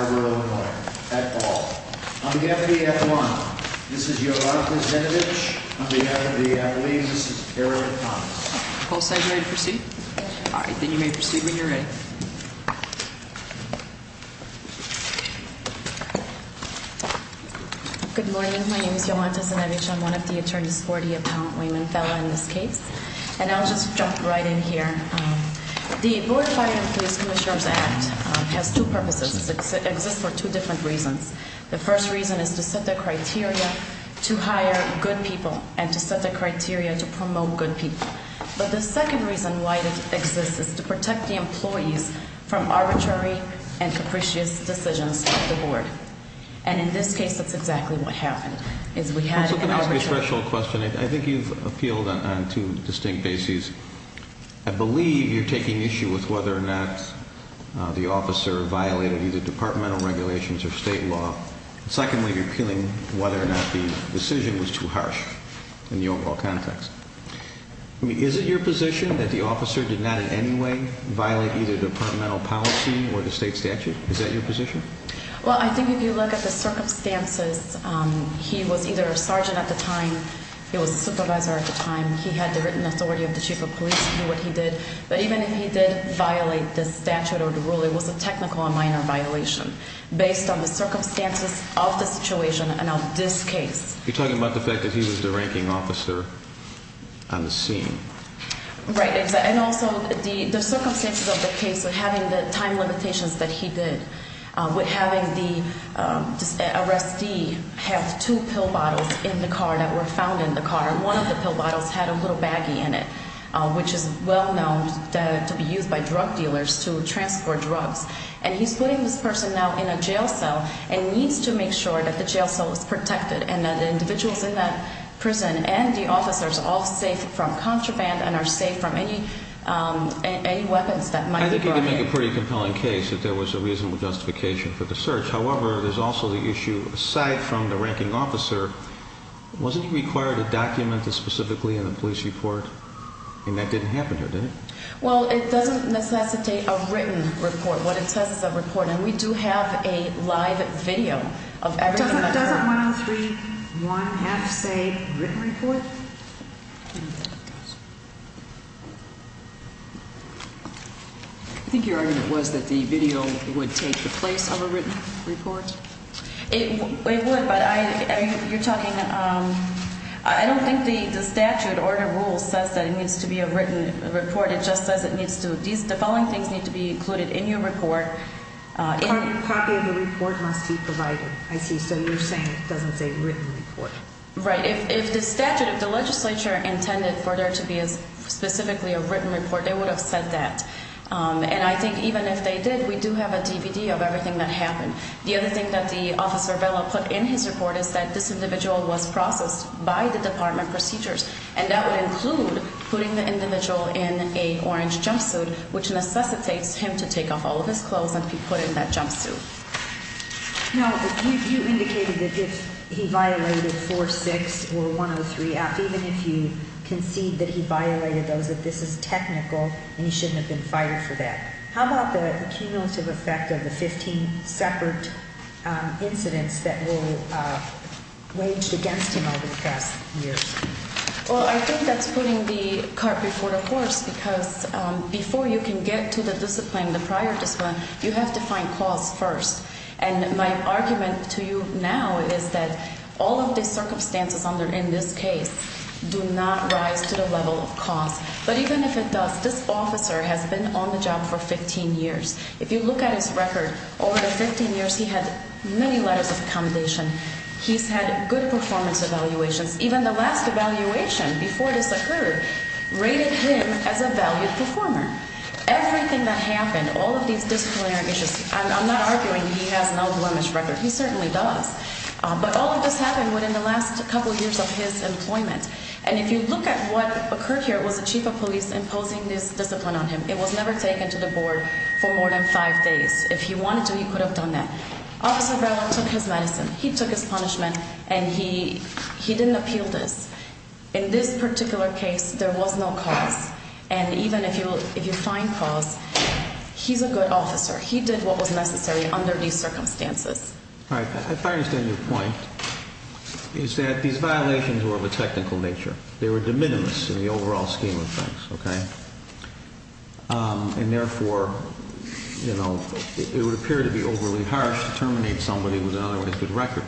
Illinois at all. On behalf of the F1, this is Yolanta Zenevich. On behalf of the F1, this is Harriet Thomas. Whole side ready to proceed? Yes. Alright, then you may proceed when you're ready. Good morning. My name is Yolanta Zenevich. I'm one of the attorneys for the Appellant Wayman Fellow in this case. And I'll just jump right in here. The Board of Fire & Police Commissioners Act has two purposes. It exists for two different reasons. The first reason is to set the criteria to hire good people and to set the criteria to promote good people. But the second reason why it exists is to protect the employees from arbitrary and capricious decisions of the Board. And in this case, that's exactly what happened. Let me ask you a special question. I think you've appealed on two distinct bases. I believe you're taking issue with whether or not the officer violated either departmental regulations or state law. Secondly, you're appealing whether or not the decision was too harsh in the overall context. Is it your position that the officer did not in any way violate either departmental policy or the state statute? Is that your position? Well, I think if you look at the circumstances, he was either a sergeant at the time, he was a supervisor at the time, he had the written authority of the chief of police to do what he did. But even if he did violate the statute or the rule, it was a technical and minor violation based on the circumstances of the situation and of this case. You're talking about the fact that he was the ranking officer on the scene. Right. And also the circumstances of the case of having the time limitations that he did with having the arrestee have two pill bottles in the car that were found in the car. One of the pill bottles had a little baggie in it, which is well known to be used by drug dealers to transport drugs. And he's putting this person now in a jail cell and needs to make sure that the jail cell is protected and that the individuals in that prison and the officers are all safe from contraband and are safe from any weapons that might be brought in. I think you can make a pretty compelling case that there was a reasonable justification for the search. However, there's also the issue, aside from the ranking officer, wasn't he required to document this specifically in the police report? And that didn't happen here, did it? Well, it doesn't necessitate a written report. What it says is a report. And we do have a live video of everything. Doesn't 103.1F say written report? I think your argument was that the video would take the place of a written report. It would, but I don't think the statute or the rules says that it needs to be a written report. It just says the following things need to be included in your report. A copy of the report must be provided. I see. So you're saying it doesn't say written report. Right. If the legislature intended for there to be specifically a written report, they would have said that. And I think even if they did, we do have a DVD of everything that happened. The other thing that the officer put in his report is that this individual was processed by the department procedures. And that would include putting the individual in a orange jumpsuit, which necessitates him to take off all of his clothes and be put in that jumpsuit. Now, you indicated that if he violated 4.6 or 103.1F, even if you concede that he violated those, that this is technical and he shouldn't have been fired for that. How about the cumulative effect of the 15 separate incidents that were waged against him over the past years? Well, I think that's putting the cart before the horse because before you can get to the discipline, the prior discipline, you have to find cause first. And my argument to you now is that all of the circumstances in this case do not rise to the level of cause. But even if it does, this officer has been on the job for 15 years. If you look at his record, over the 15 years, he had many letters of accommodation. He's had good performance evaluations. Even the last evaluation before this occurred rated him as a valued performer. Everything that happened, all of these disciplinary issues, I'm not arguing he has an outworn record. He certainly does. But all of this happened within the last couple of years of his employment. And if you look at what occurred here, it was the chief of police imposing this discipline on him. It was never taken to the board for more than five days. If he wanted to, he could have done that. Officer Brown took his medicine. He took his punishment. And he didn't appeal this. In this particular case, there was no cause. And even if you find cause, he's a good officer. He did what was necessary under these circumstances. All right. If I understand your point, it's that these violations were of a technical nature. They were de minimis in the overall scheme of things, okay? And therefore, you know, it would appear to be overly harsh to terminate somebody with an otherwise good record.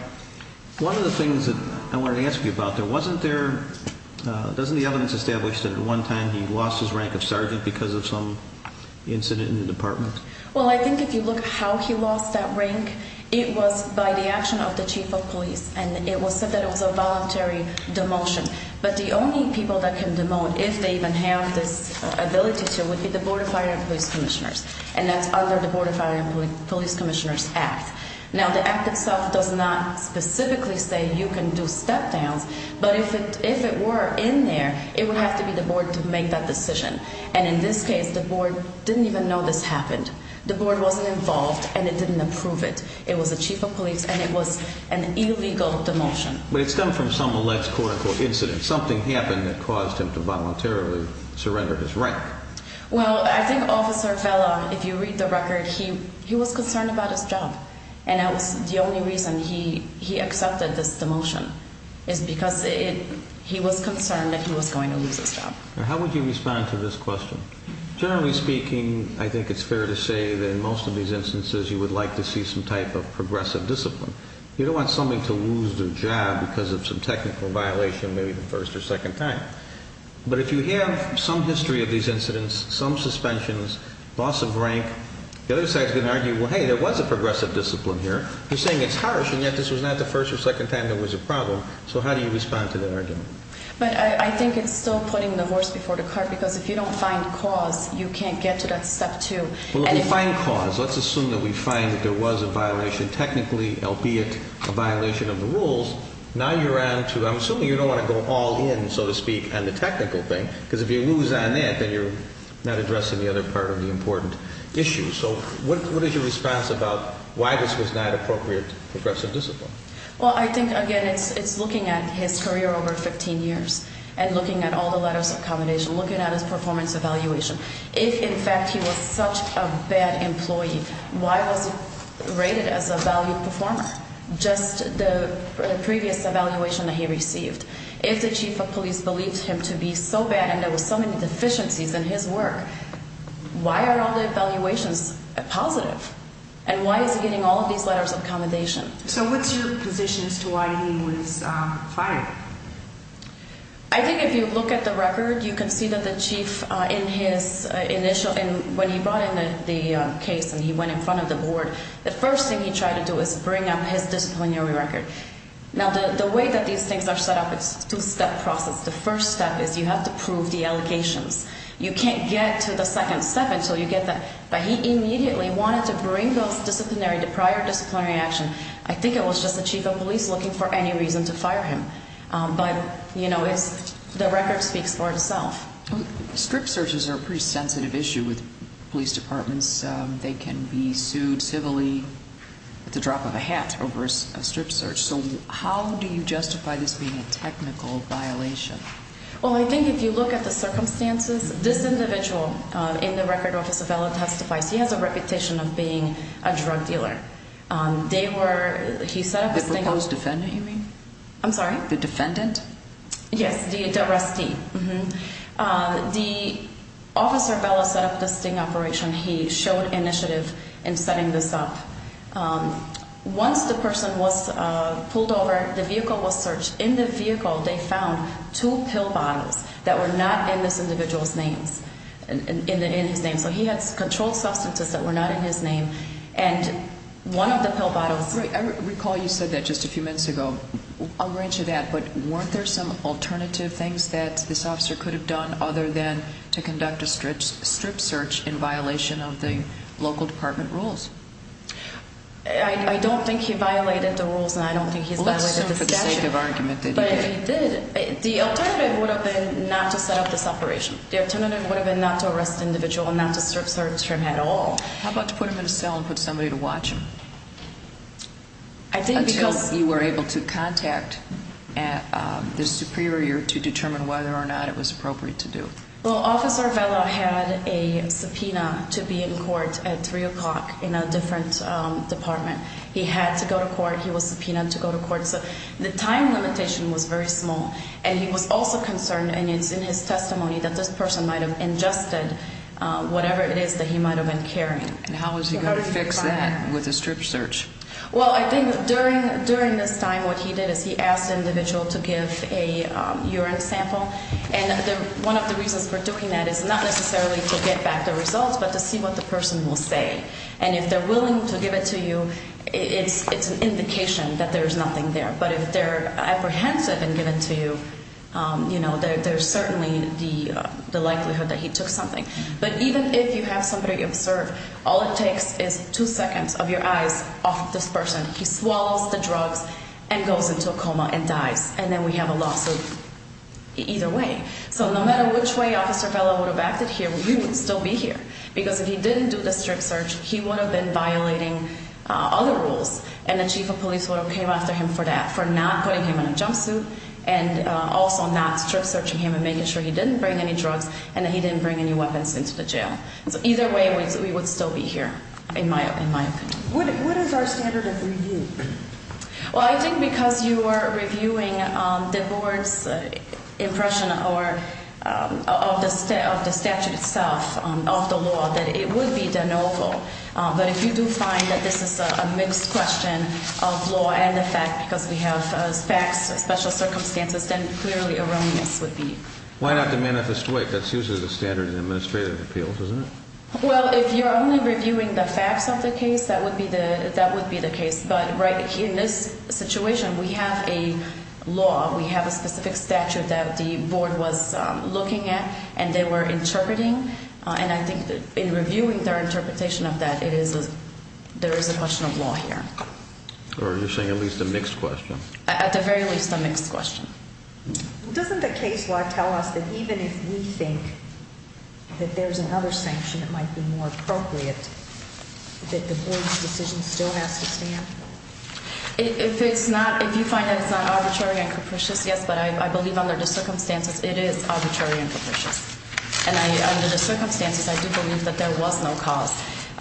One of the things that I want to ask you about, there wasn't there – doesn't the evidence establish that at one time he lost his rank of sergeant because of some incident in the department? Well, I think if you look at how he lost that rank, it was by the action of the chief of police. And it was said that it was a voluntary demotion. But the only people that can demote, if they even have this ability to, would be the Board of Fire and Police Commissioners. And that's under the Board of Fire and Police Commissioners Act. Now, the act itself does not specifically say you can do step downs. But if it were in there, it would have to be the board to make that decision. And in this case, the board didn't even know this happened. The board wasn't involved, and it didn't approve it. It was the chief of police, and it was an illegal demotion. But it stemmed from some alleged, quote-unquote, incident. Something happened that caused him to voluntarily surrender his rank. Well, I think Officer Vela, if you read the record, he was concerned about his job. And that was the only reason he accepted this demotion, is because he was concerned that he was going to lose his job. Now, how would you respond to this question? Generally speaking, I think it's fair to say that in most of these instances, you would like to see some type of progressive discipline. You don't want somebody to lose their job because of some technical violation, maybe the first or second time. But if you have some history of these incidents, some suspensions, loss of rank, the other side is going to argue, well, hey, there was a progressive discipline here. You're saying it's harsh, and yet this was not the first or second time there was a problem. So how do you respond to that argument? But I think it's still putting the horse before the cart, because if you don't find cause, you can't get to that step two. Well, if you find cause, let's assume that we find that there was a violation technically, albeit a violation of the rules. Now you're on to – I'm assuming you don't want to go all in, so to speak, on the technical thing. Because if you lose on that, then you're not addressing the other part of the important issue. So what is your response about why this was not appropriate progressive discipline? Well, I think, again, it's looking at his career over 15 years and looking at all the letters of accommodation, looking at his performance evaluation. If, in fact, he was such a bad employee, why was he rated as a valued performer? Just the previous evaluation that he received. If the chief of police believed him to be so bad and there were so many deficiencies in his work, why are all the evaluations positive? And why is he getting all of these letters of accommodation? So what's your position as to why he was fired? I think if you look at the record, you can see that the chief in his initial – when he brought in the case and he went in front of the board, the first thing he tried to do was bring up his disciplinary record. Now, the way that these things are set up, it's a two-step process. The first step is you have to prove the allegations. You can't get to the second step until you get that. But he immediately wanted to bring those disciplinary – the prior disciplinary action. I think it was just the chief of police looking for any reason to fire him. But, you know, it's – the record speaks for itself. Strip searches are a pretty sensitive issue with police departments. They can be sued civilly at the drop of a hat over a strip search. So how do you justify this being a technical violation? Well, I think if you look at the circumstances, this individual in the record, Officer Vela, testifies. He has a reputation of being a drug dealer. They were – he set up a sting operation. The proposed defendant, you mean? I'm sorry? The defendant? Yes, the arrestee. The – Officer Vela set up the sting operation. He showed initiative in setting this up. Once the person was pulled over, the vehicle was searched. In the vehicle, they found two pill bottles that were not in this individual's names – in his name. So he had controlled substances that were not in his name. And one of the pill bottles – Right. I recall you said that just a few minutes ago. I'll grant you that. But weren't there some alternative things that this officer could have done other than to conduct a strip search in violation of the local department rules? I don't think he violated the rules, and I don't think he's violated the statute. But if he did, the alternative would have been not to set up this operation. The alternative would have been not to arrest the individual and not to search him at all. How about to put him in a cell and put somebody to watch him? I think because – Until you were able to contact the superior to determine whether or not it was appropriate to do. Well, Officer Vela had a subpoena to be in court at 3 o'clock in a different department. He had to go to court. He was subpoenaed to go to court. So the time limitation was very small. And he was also concerned, and it's in his testimony, that this person might have ingested whatever it is that he might have been carrying. And how was he going to fix that with a strip search? Well, I think during this time what he did is he asked the individual to give a urine sample. And one of the reasons for doing that is not necessarily to get back the results but to see what the person will say. And if they're willing to give it to you, it's an indication that there's nothing there. But if they're apprehensive and give it to you, you know, there's certainly the likelihood that he took something. But even if you have somebody observe, all it takes is two seconds of your eyes off this person. He swallows the drugs and goes into a coma and dies. And then we have a lawsuit either way. So no matter which way Officer Vela would have acted here, we would still be here. Because if he didn't do the strip search, he would have been violating other rules. And the chief of police would have came after him for that, for not putting him in a jumpsuit and also not strip searching him and making sure he didn't bring any drugs and that he didn't bring any weapons into the jail. So either way, we would still be here, in my opinion. What is our standard of review? Well, I think because you are reviewing the board's impression of the statute itself, of the law, that it would be de novo. But if you do find that this is a mixed question of law and the fact, because we have facts, special circumstances, then clearly a wrongness would be. Why not de manifesto? That's usually the standard in administrative appeals, isn't it? Well, if you're only reviewing the facts of the case, that would be the case. But in this situation, we have a law, we have a specific statute that the board was looking at and they were interpreting. And I think in reviewing their interpretation of that, there is a question of law here. Or are you saying at least a mixed question? At the very least, a mixed question. Doesn't the case law tell us that even if we think that there's another sanction that might be more appropriate, that the board's decision still has to stand? If it's not – if you find that it's not arbitrary and capricious, yes. But I believe under the circumstances, it is arbitrary and capricious. And under the circumstances, I do believe that there was no cause.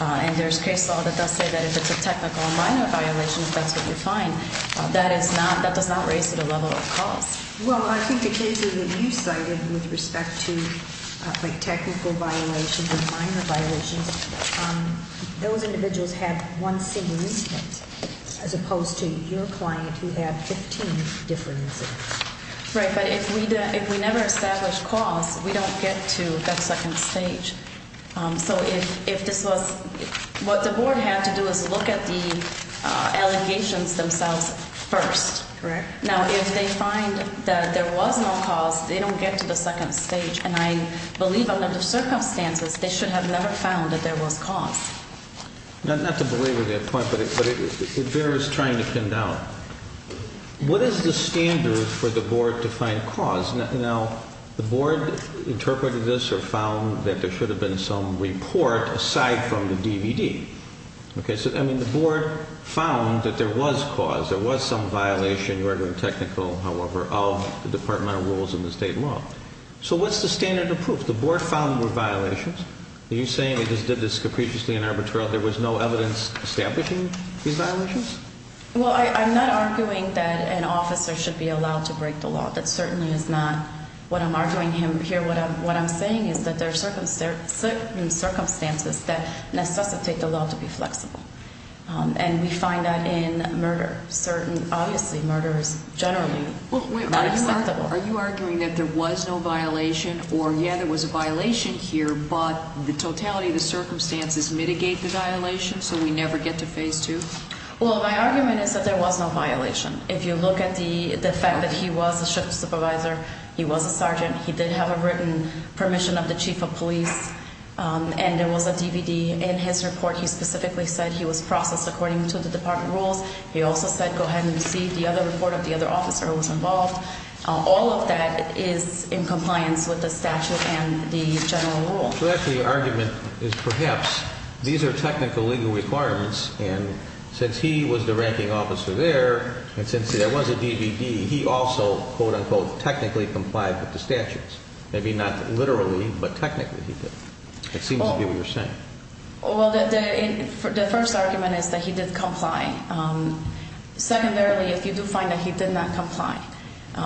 And there's case law that does say that if it's a technical and minor violation, if that's what you find, that is not – that does not raise to the level of cause. Well, I think the cases that you cited with respect to technical violations and minor violations, those individuals have one single incident as opposed to your client who had 15 different incidents. Right. But if we never establish cause, we don't get to that second stage. So if this was – what the board had to do was look at the allegations themselves first. Correct. Now, if they find that there was no cause, they don't get to the second stage. And I believe under the circumstances, they should have never found that there was cause. Not to belabor that point, but it varies trying to pin down. What is the standard for the board to find cause? Now, the board interpreted this or found that there should have been some report aside from the DVD. Okay? So, I mean, the board found that there was cause. There was some violation, you are doing technical, however, of the departmental rules in the state law. So what's the standard of proof? The board found there were violations. Are you saying they just did this capriciously and arbitrarily? There was no evidence establishing these violations? Well, I'm not arguing that an officer should be allowed to break the law. That certainly is not what I'm arguing here. What I'm saying is that there are circumstances that necessitate the law to be flexible. And we find that in murder. Obviously, murder is generally not acceptable. Are you arguing that there was no violation or, yeah, there was a violation here, but the totality of the circumstances mitigate the violation so we never get to phase two? Well, my argument is that there was no violation. If you look at the fact that he was a shift supervisor, he was a sergeant, he did have a written permission of the chief of police, and there was a DVD in his report. He specifically said he was processed according to the department rules. He also said go ahead and see the other report of the other officer who was involved. All of that is in compliance with the statute and the general rules. So that's the argument is perhaps these are technical legal requirements, and since he was the ranking officer there and since there was a DVD, he also, quote, unquote, technically complied with the statutes. Maybe not literally, but technically he did. It seems to be what you're saying. Well, the first argument is that he did comply. Secondarily, if you do find that he did not comply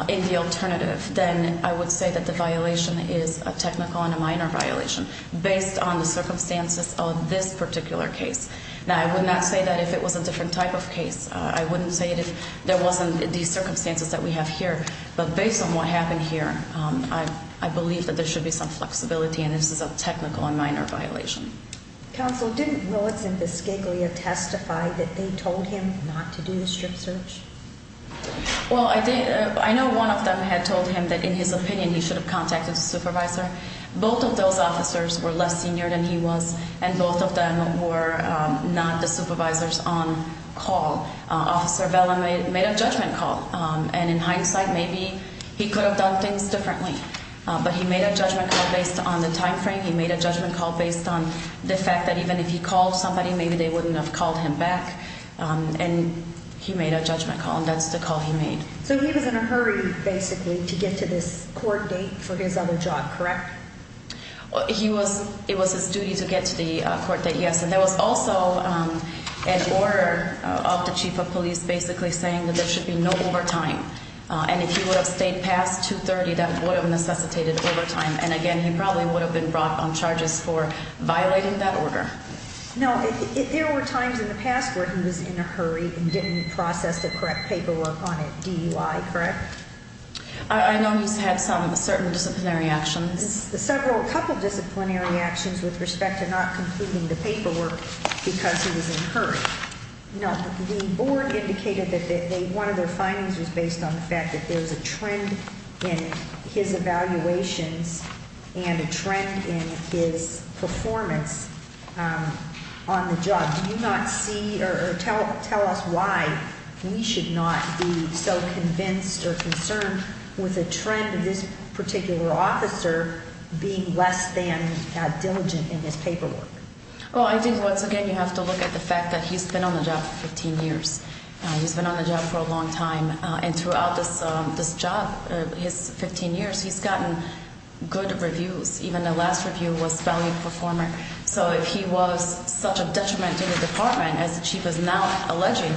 in the alternative, then I would say that the violation is a technical and a minor violation based on the circumstances of this particular case. Now, I would not say that if it was a different type of case. I wouldn't say it if there wasn't these circumstances that we have here. But based on what happened here, I believe that there should be some flexibility and this is a technical and minor violation. Counsel, didn't Willits and Biscaglia testify that they told him not to do the strip search? Well, I know one of them had told him that in his opinion he should have contacted the supervisor. Both of those officers were less senior than he was, and both of them were not the supervisors on call. Officer Vela made a judgment call, and in hindsight maybe he could have done things differently. But he made a judgment call based on the time frame. He made a judgment call based on the fact that even if he called somebody, maybe they wouldn't have called him back. And he made a judgment call, and that's the call he made. So he was in a hurry, basically, to get to this court date for his other job, correct? It was his duty to get to the court date, yes. And there was also an order of the chief of police basically saying that there should be no overtime. And if he would have stayed past 2.30, that would have necessitated overtime. And, again, he probably would have been brought on charges for violating that order. No, there were times in the past where he was in a hurry and didn't process the correct paperwork on it, DUI, correct? I know he's had some certain disciplinary actions. Several, a couple disciplinary actions with respect to not concluding the paperwork because he was in a hurry. No, the board indicated that one of their findings was based on the fact that there was a trend in his evaluations and a trend in his performance on the job. Do you not see or tell us why we should not be so convinced or concerned with a trend of this particular officer being less than diligent in his paperwork? Well, I think, once again, you have to look at the fact that he's been on the job for 15 years. He's been on the job for a long time. And throughout this job, his 15 years, he's gotten good reviews. Even the last review was valued performer. So if he was such a detriment to the department, as the chief is now alleging,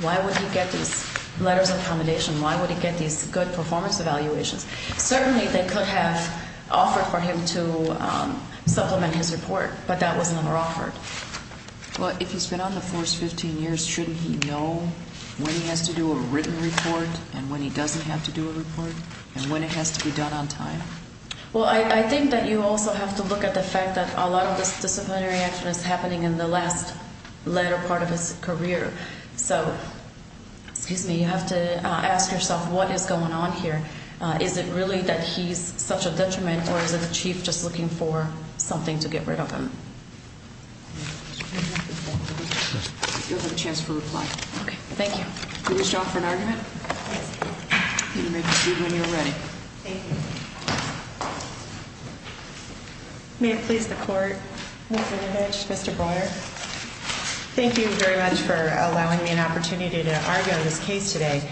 why would he get these letters of accommodation? Why would he get these good performance evaluations? Certainly they could have offered for him to supplement his report, but that was never offered. Well, if he's been on the force 15 years, shouldn't he know when he has to do a written report and when he doesn't have to do a report and when it has to be done on time? Well, I think that you also have to look at the fact that a lot of this disciplinary action is happening in the last letter part of his career. So, excuse me, you have to ask yourself what is going on here. Is it really that he's such a detriment or is it the chief just looking for something to get rid of him? You'll have a chance to reply. Okay, thank you. You wish to offer an argument? Yes. You may proceed when you're ready. Thank you. May it please the court. Mr. Levitch, Mr. Breuer. Thank you very much for allowing me an opportunity to argue on this case today.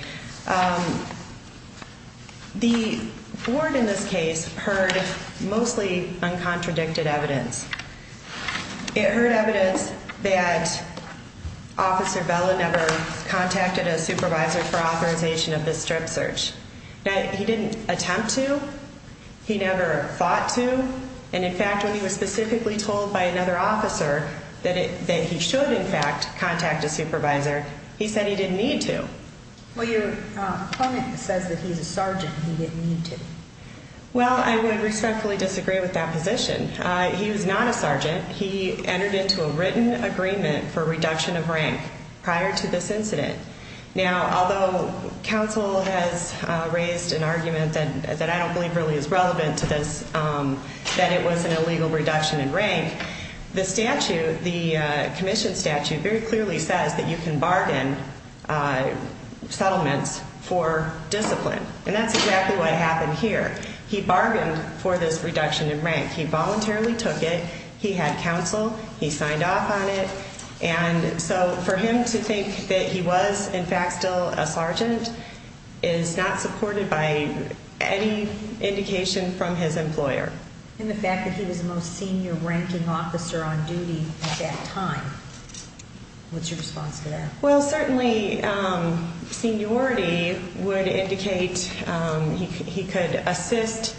The board in this case heard mostly uncontradicted evidence. It heard evidence that Officer Bella never contacted a supervisor for authorization of this strip search. Now, he didn't attempt to. He never fought to. And, in fact, when he was specifically told by another officer that he should, in fact, contact a supervisor, he said he didn't need to. Well, your opponent says that he's a sergeant and he didn't need to. Well, I would respectfully disagree with that position. He was not a sergeant. He entered into a written agreement for reduction of rank prior to this incident. Now, although counsel has raised an argument that I don't believe really is relevant to this, that it was an illegal reduction in rank, the statute, the commission statute, very clearly says that you can bargain settlements for discipline. And that's exactly what happened here. He bargained for this reduction in rank. He voluntarily took it. He had counsel. He signed off on it. And so for him to think that he was, in fact, still a sergeant is not supported by any indication from his employer. And the fact that he was the most senior ranking officer on duty at that time, what's your response to that? Well, certainly seniority would indicate he could assist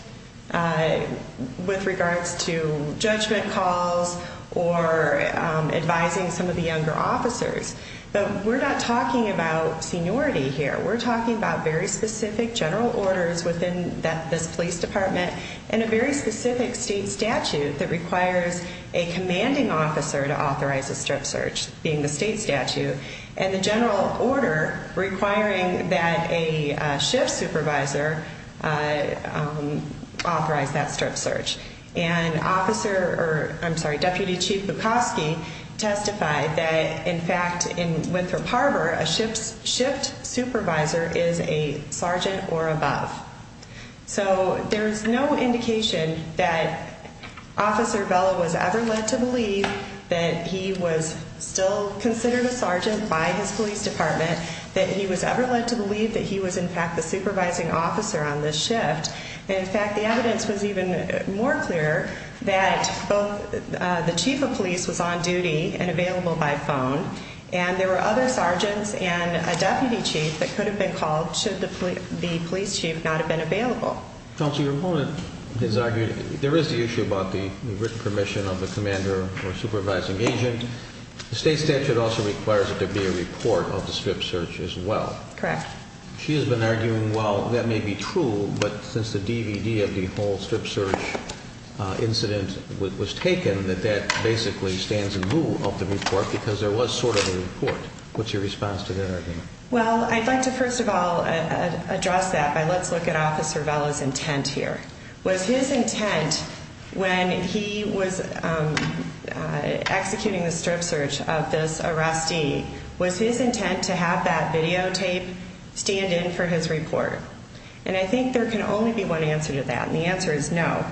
with regards to judgment calls or advising some of the younger officers. But we're not talking about seniority here. We're talking about very specific general orders within this police department and a very specific state statute that requires a commanding officer to authorize a strip search, being the state statute, and the general order requiring that a shift supervisor authorize that strip search. And Deputy Chief Bukowski testified that, in fact, in Winthrop Harbor, a shift supervisor is a sergeant or above. So there's no indication that Officer Bella was ever led to believe that he was still considered a sergeant by his police department, that he was ever led to believe that he was, in fact, the supervising officer on this shift. And, in fact, the evidence was even more clear that both the chief of police was on duty and available by phone, and there were other sergeants and a deputy chief that could have been called should the police chief not have been available. Counsel, your opponent has argued there is the issue about the written permission of the commander or supervising agent. The state statute also requires that there be a report of the strip search as well. Correct. She has been arguing, well, that may be true, but since the DVD of the whole strip search incident was taken, that that basically stands in lieu of the report because there was sort of a report. What's your response to that argument? Well, I'd like to, first of all, address that by let's look at Officer Bella's intent here. Was his intent when he was executing the strip search of this arrestee, was his intent to have that videotape stand in for his report? And I think there can only be one answer to that, and the answer is no.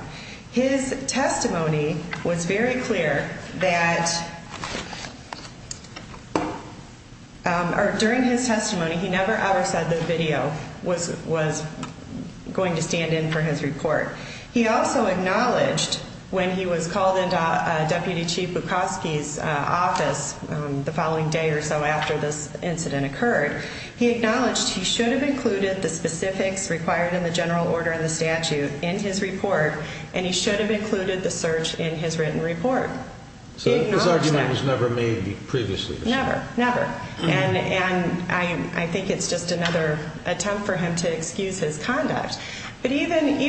His testimony was very clear that during his testimony, he never, ever said the video was going to stand in for his report. He also acknowledged when he was called into Deputy Chief Bukowski's office the following day or so after this incident occurred, he acknowledged he should have included the specifics required in the general order in the statute in his report, and he should have included the search in his written report. So his argument was never made previously? Never, never. And I think it's just another attempt for him to excuse his conduct. But even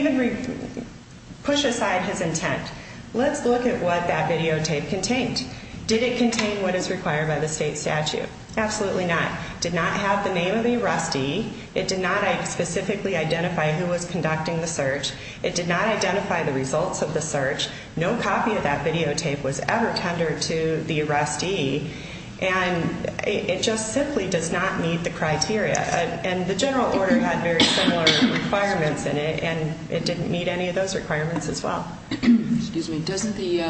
push aside his intent, let's look at what that videotape contained. Did it contain what is required by the state statute? Absolutely not. It did not have the name of the arrestee. It did not specifically identify who was conducting the search. It did not identify the results of the search. No copy of that videotape was ever tendered to the arrestee, and it just simply does not meet the criteria. And the general order had very similar requirements in it, and it didn't meet any of those requirements as well. Excuse me. Doesn't the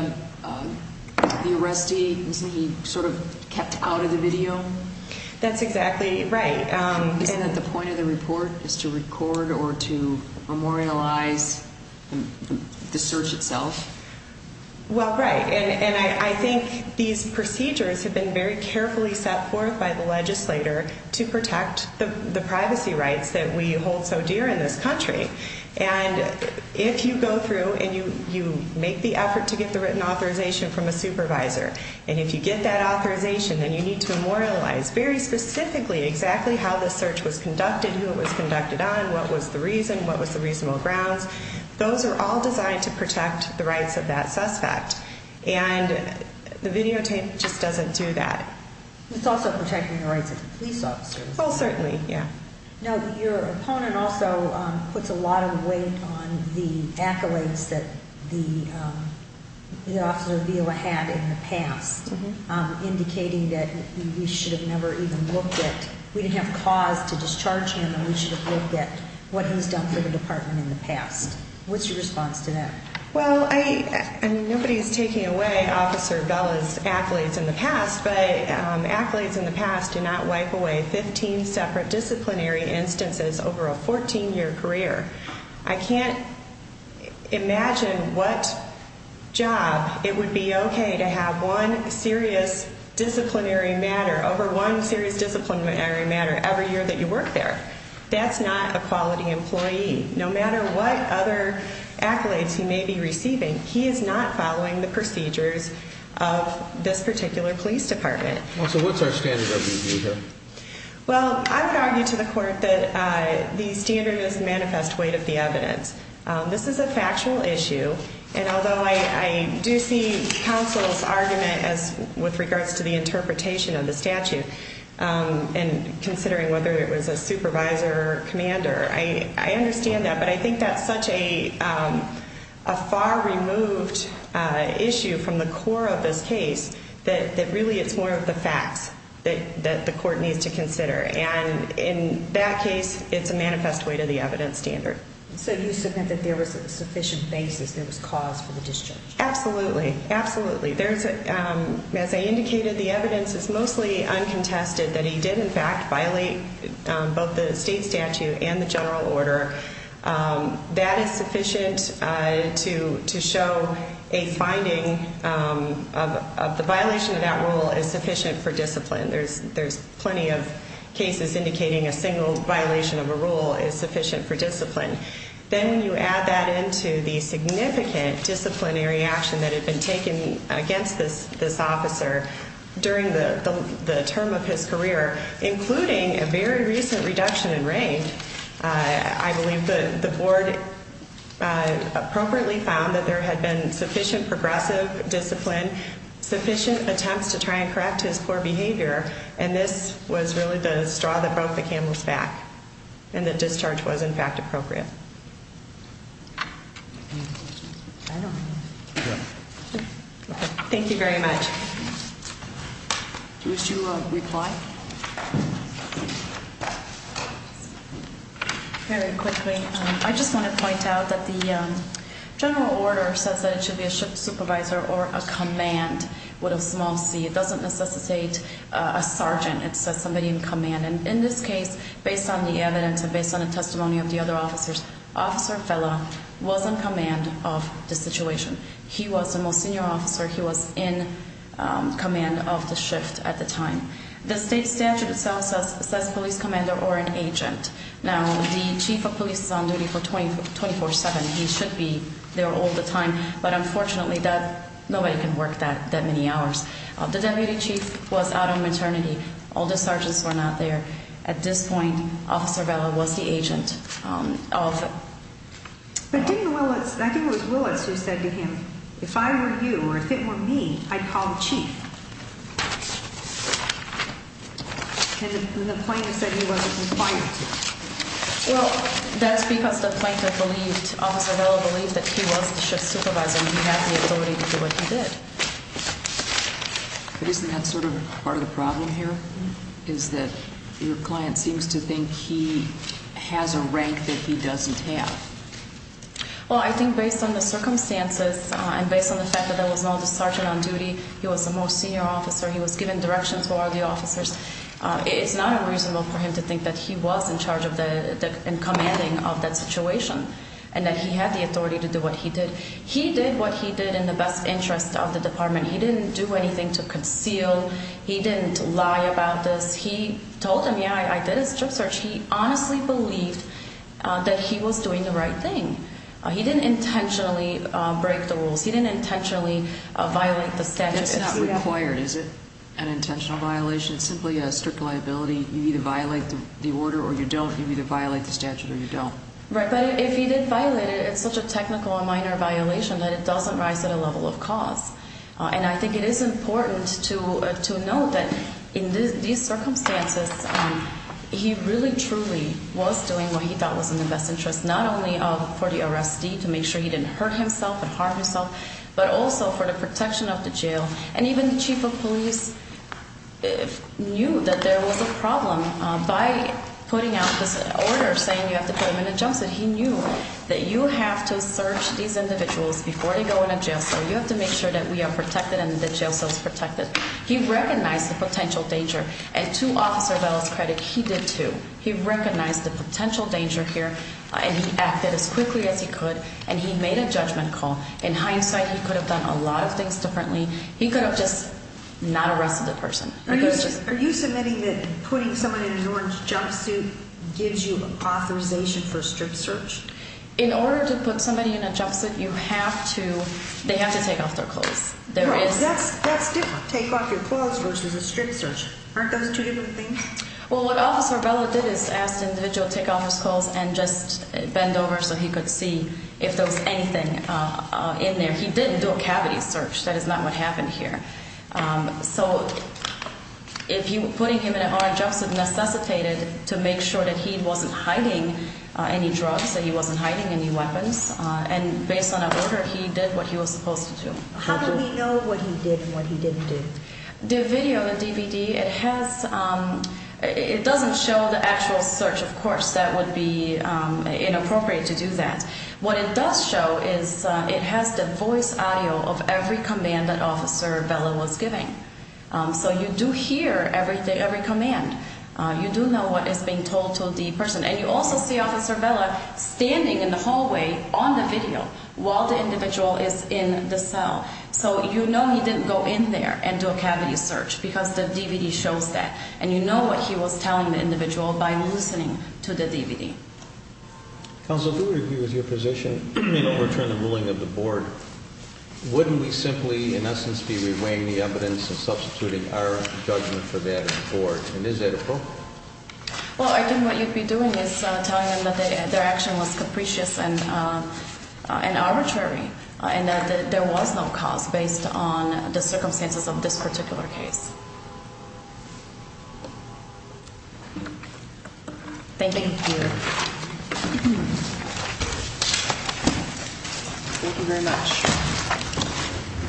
arrestee, isn't he sort of kept out of the video? That's exactly right. Isn't it the point of the report is to record or to memorialize the search itself? Well, right, and I think these procedures have been very carefully set forth by the legislator to protect the privacy rights that we hold so dear in this country. And if you go through and you make the effort to get the written authorization from a supervisor, and if you get that authorization, then you need to memorialize very specifically exactly how the search was conducted, who it was conducted on, what was the reason, what was the reasonable grounds. Those are all designed to protect the rights of that suspect, and the videotape just doesn't do that. It's also protecting the rights of the police officers. Oh, certainly, yeah. Now, your opponent also puts a lot of weight on the accolades that the officer Vila had in the past, indicating that we should have never even looked at, we didn't have cause to discharge him, and we should have looked at what he's done for the department in the past. What's your response to that? Well, I mean, nobody's taking away Officer Vila's accolades in the past, but accolades in the past do not wipe away 15 separate disciplinary instances over a 14-year career. I can't imagine what job it would be okay to have one serious disciplinary matter over one serious disciplinary matter every year that you work there. That's not a quality employee. No matter what other accolades he may be receiving, he is not following the procedures of this particular police department. Well, so what's our standard of review here? Well, I would argue to the court that the standard is manifest weight of the evidence. This is a factual issue, and although I do see counsel's argument with regards to the interpretation of the statute and considering whether it was a supervisor or commander, I understand that. But I think that's such a far-removed issue from the core of this case that really it's more of the facts that the court needs to consider. And in that case, it's a manifest weight of the evidence standard. So you submit that there was a sufficient basis there was cause for the discharge? Absolutely, absolutely. As I indicated, the evidence is mostly uncontested that he did in fact violate both the state statute and the general order. That is sufficient to show a finding of the violation of that rule is sufficient for discipline. There's plenty of cases indicating a single violation of a rule is sufficient for discipline. Then you add that into the significant disciplinary action that had been taken against this officer during the term of his career, including a very recent reduction in rank. I believe the board appropriately found that there had been sufficient progressive discipline, sufficient attempts to try and correct his poor behavior, and this was really the straw that broke the camel's back and that discharge was in fact appropriate. Thank you very much. Do you wish to reply? Very quickly. I just want to point out that the general order says that it should be a supervisor or a command with a small c. It doesn't necessitate a sergeant. It says somebody in command. And in this case, based on the evidence and based on the testimony of the other officers, Officer Fella was in command of the situation. He was the most senior officer. He was in command of the shift at the time. The state statute itself says police commander or an agent. Now, the chief of police is on duty 24-7. He should be there all the time, but unfortunately nobody can work that many hours. The deputy chief was out on maternity. All the sergeants were not there. At this point, Officer Fella was the agent. But didn't Willis, I think it was Willis who said to him, if I were you or if it were me, I'd call the chief. And the plaintiff said he wasn't required to. Well, that's because the plaintiff believed, Officer Fella believed that he was the shift supervisor and he had the ability to do what he did. But isn't that sort of part of the problem here is that your client seems to think he has a rank that he doesn't have? Well, I think based on the circumstances and based on the fact that there was no other sergeant on duty, he was the most senior officer, he was given direction to all the officers, it's not unreasonable for him to think that he was in charge and commanding of that situation and that he had the authority to do what he did. He did what he did in the best interest of the department. He didn't do anything to conceal. He didn't lie about this. He told them, yeah, I did a strip search. He honestly believed that he was doing the right thing. He didn't intentionally break the rules. He didn't intentionally violate the statute. It's not required, is it, an intentional violation? It's simply a strict liability. You either violate the order or you don't. You either violate the statute or you don't. Right, but if he did violate it, it's such a technical and minor violation that it doesn't rise to the level of cause. And I think it is important to note that in these circumstances, he really truly was doing what he thought was in the best interest, not only for the arrestee to make sure he didn't hurt himself and harm himself, but also for the protection of the jail. And even the chief of police knew that there was a problem. By putting out this order saying you have to put him in a jail cell, he knew that you have to search these individuals before they go in a jail cell. You have to make sure that we are protected and that the jail cell is protected. He recognized the potential danger, and to Officer Bell's credit, he did too. He recognized the potential danger here, and he acted as quickly as he could, and he made a judgment call. In hindsight, he could have done a lot of things differently. He could have just not arrested the person. Are you submitting that putting someone in an orange jumpsuit gives you authorization for a strip search? In order to put somebody in a jumpsuit, you have to – they have to take off their clothes. That's different, take off your clothes versus a strip search. Aren't those two different things? Well, what Officer Bell did is ask the individual to take off his clothes and just bend over so he could see if there was anything in there. He didn't do a cavity search. That is not what happened here. So putting him in an orange jumpsuit necessitated to make sure that he wasn't hiding any drugs, that he wasn't hiding any weapons. And based on our order, he did what he was supposed to do. How do we know what he did and what he didn't do? The video, the DVD, it has – it doesn't show the actual search. Of course, that would be inappropriate to do that. What it does show is it has the voice audio of every command that Officer Bella was giving. So you do hear every command. You do know what is being told to the person. And you also see Officer Bella standing in the hallway on the video while the individual is in the cell. So you know he didn't go in there and do a cavity search because the DVD shows that. And you know what he was telling the individual by listening to the DVD. Counsel, if we would agree with your position and overturn the ruling of the board, wouldn't we simply, in essence, be reweighing the evidence and substituting our judgment for that of the board? And is that appropriate? Well, I think what you'd be doing is telling them that their action was capricious and arbitrary and that there was no cause based on the circumstances of this particular case. Thank you. Thank you very much.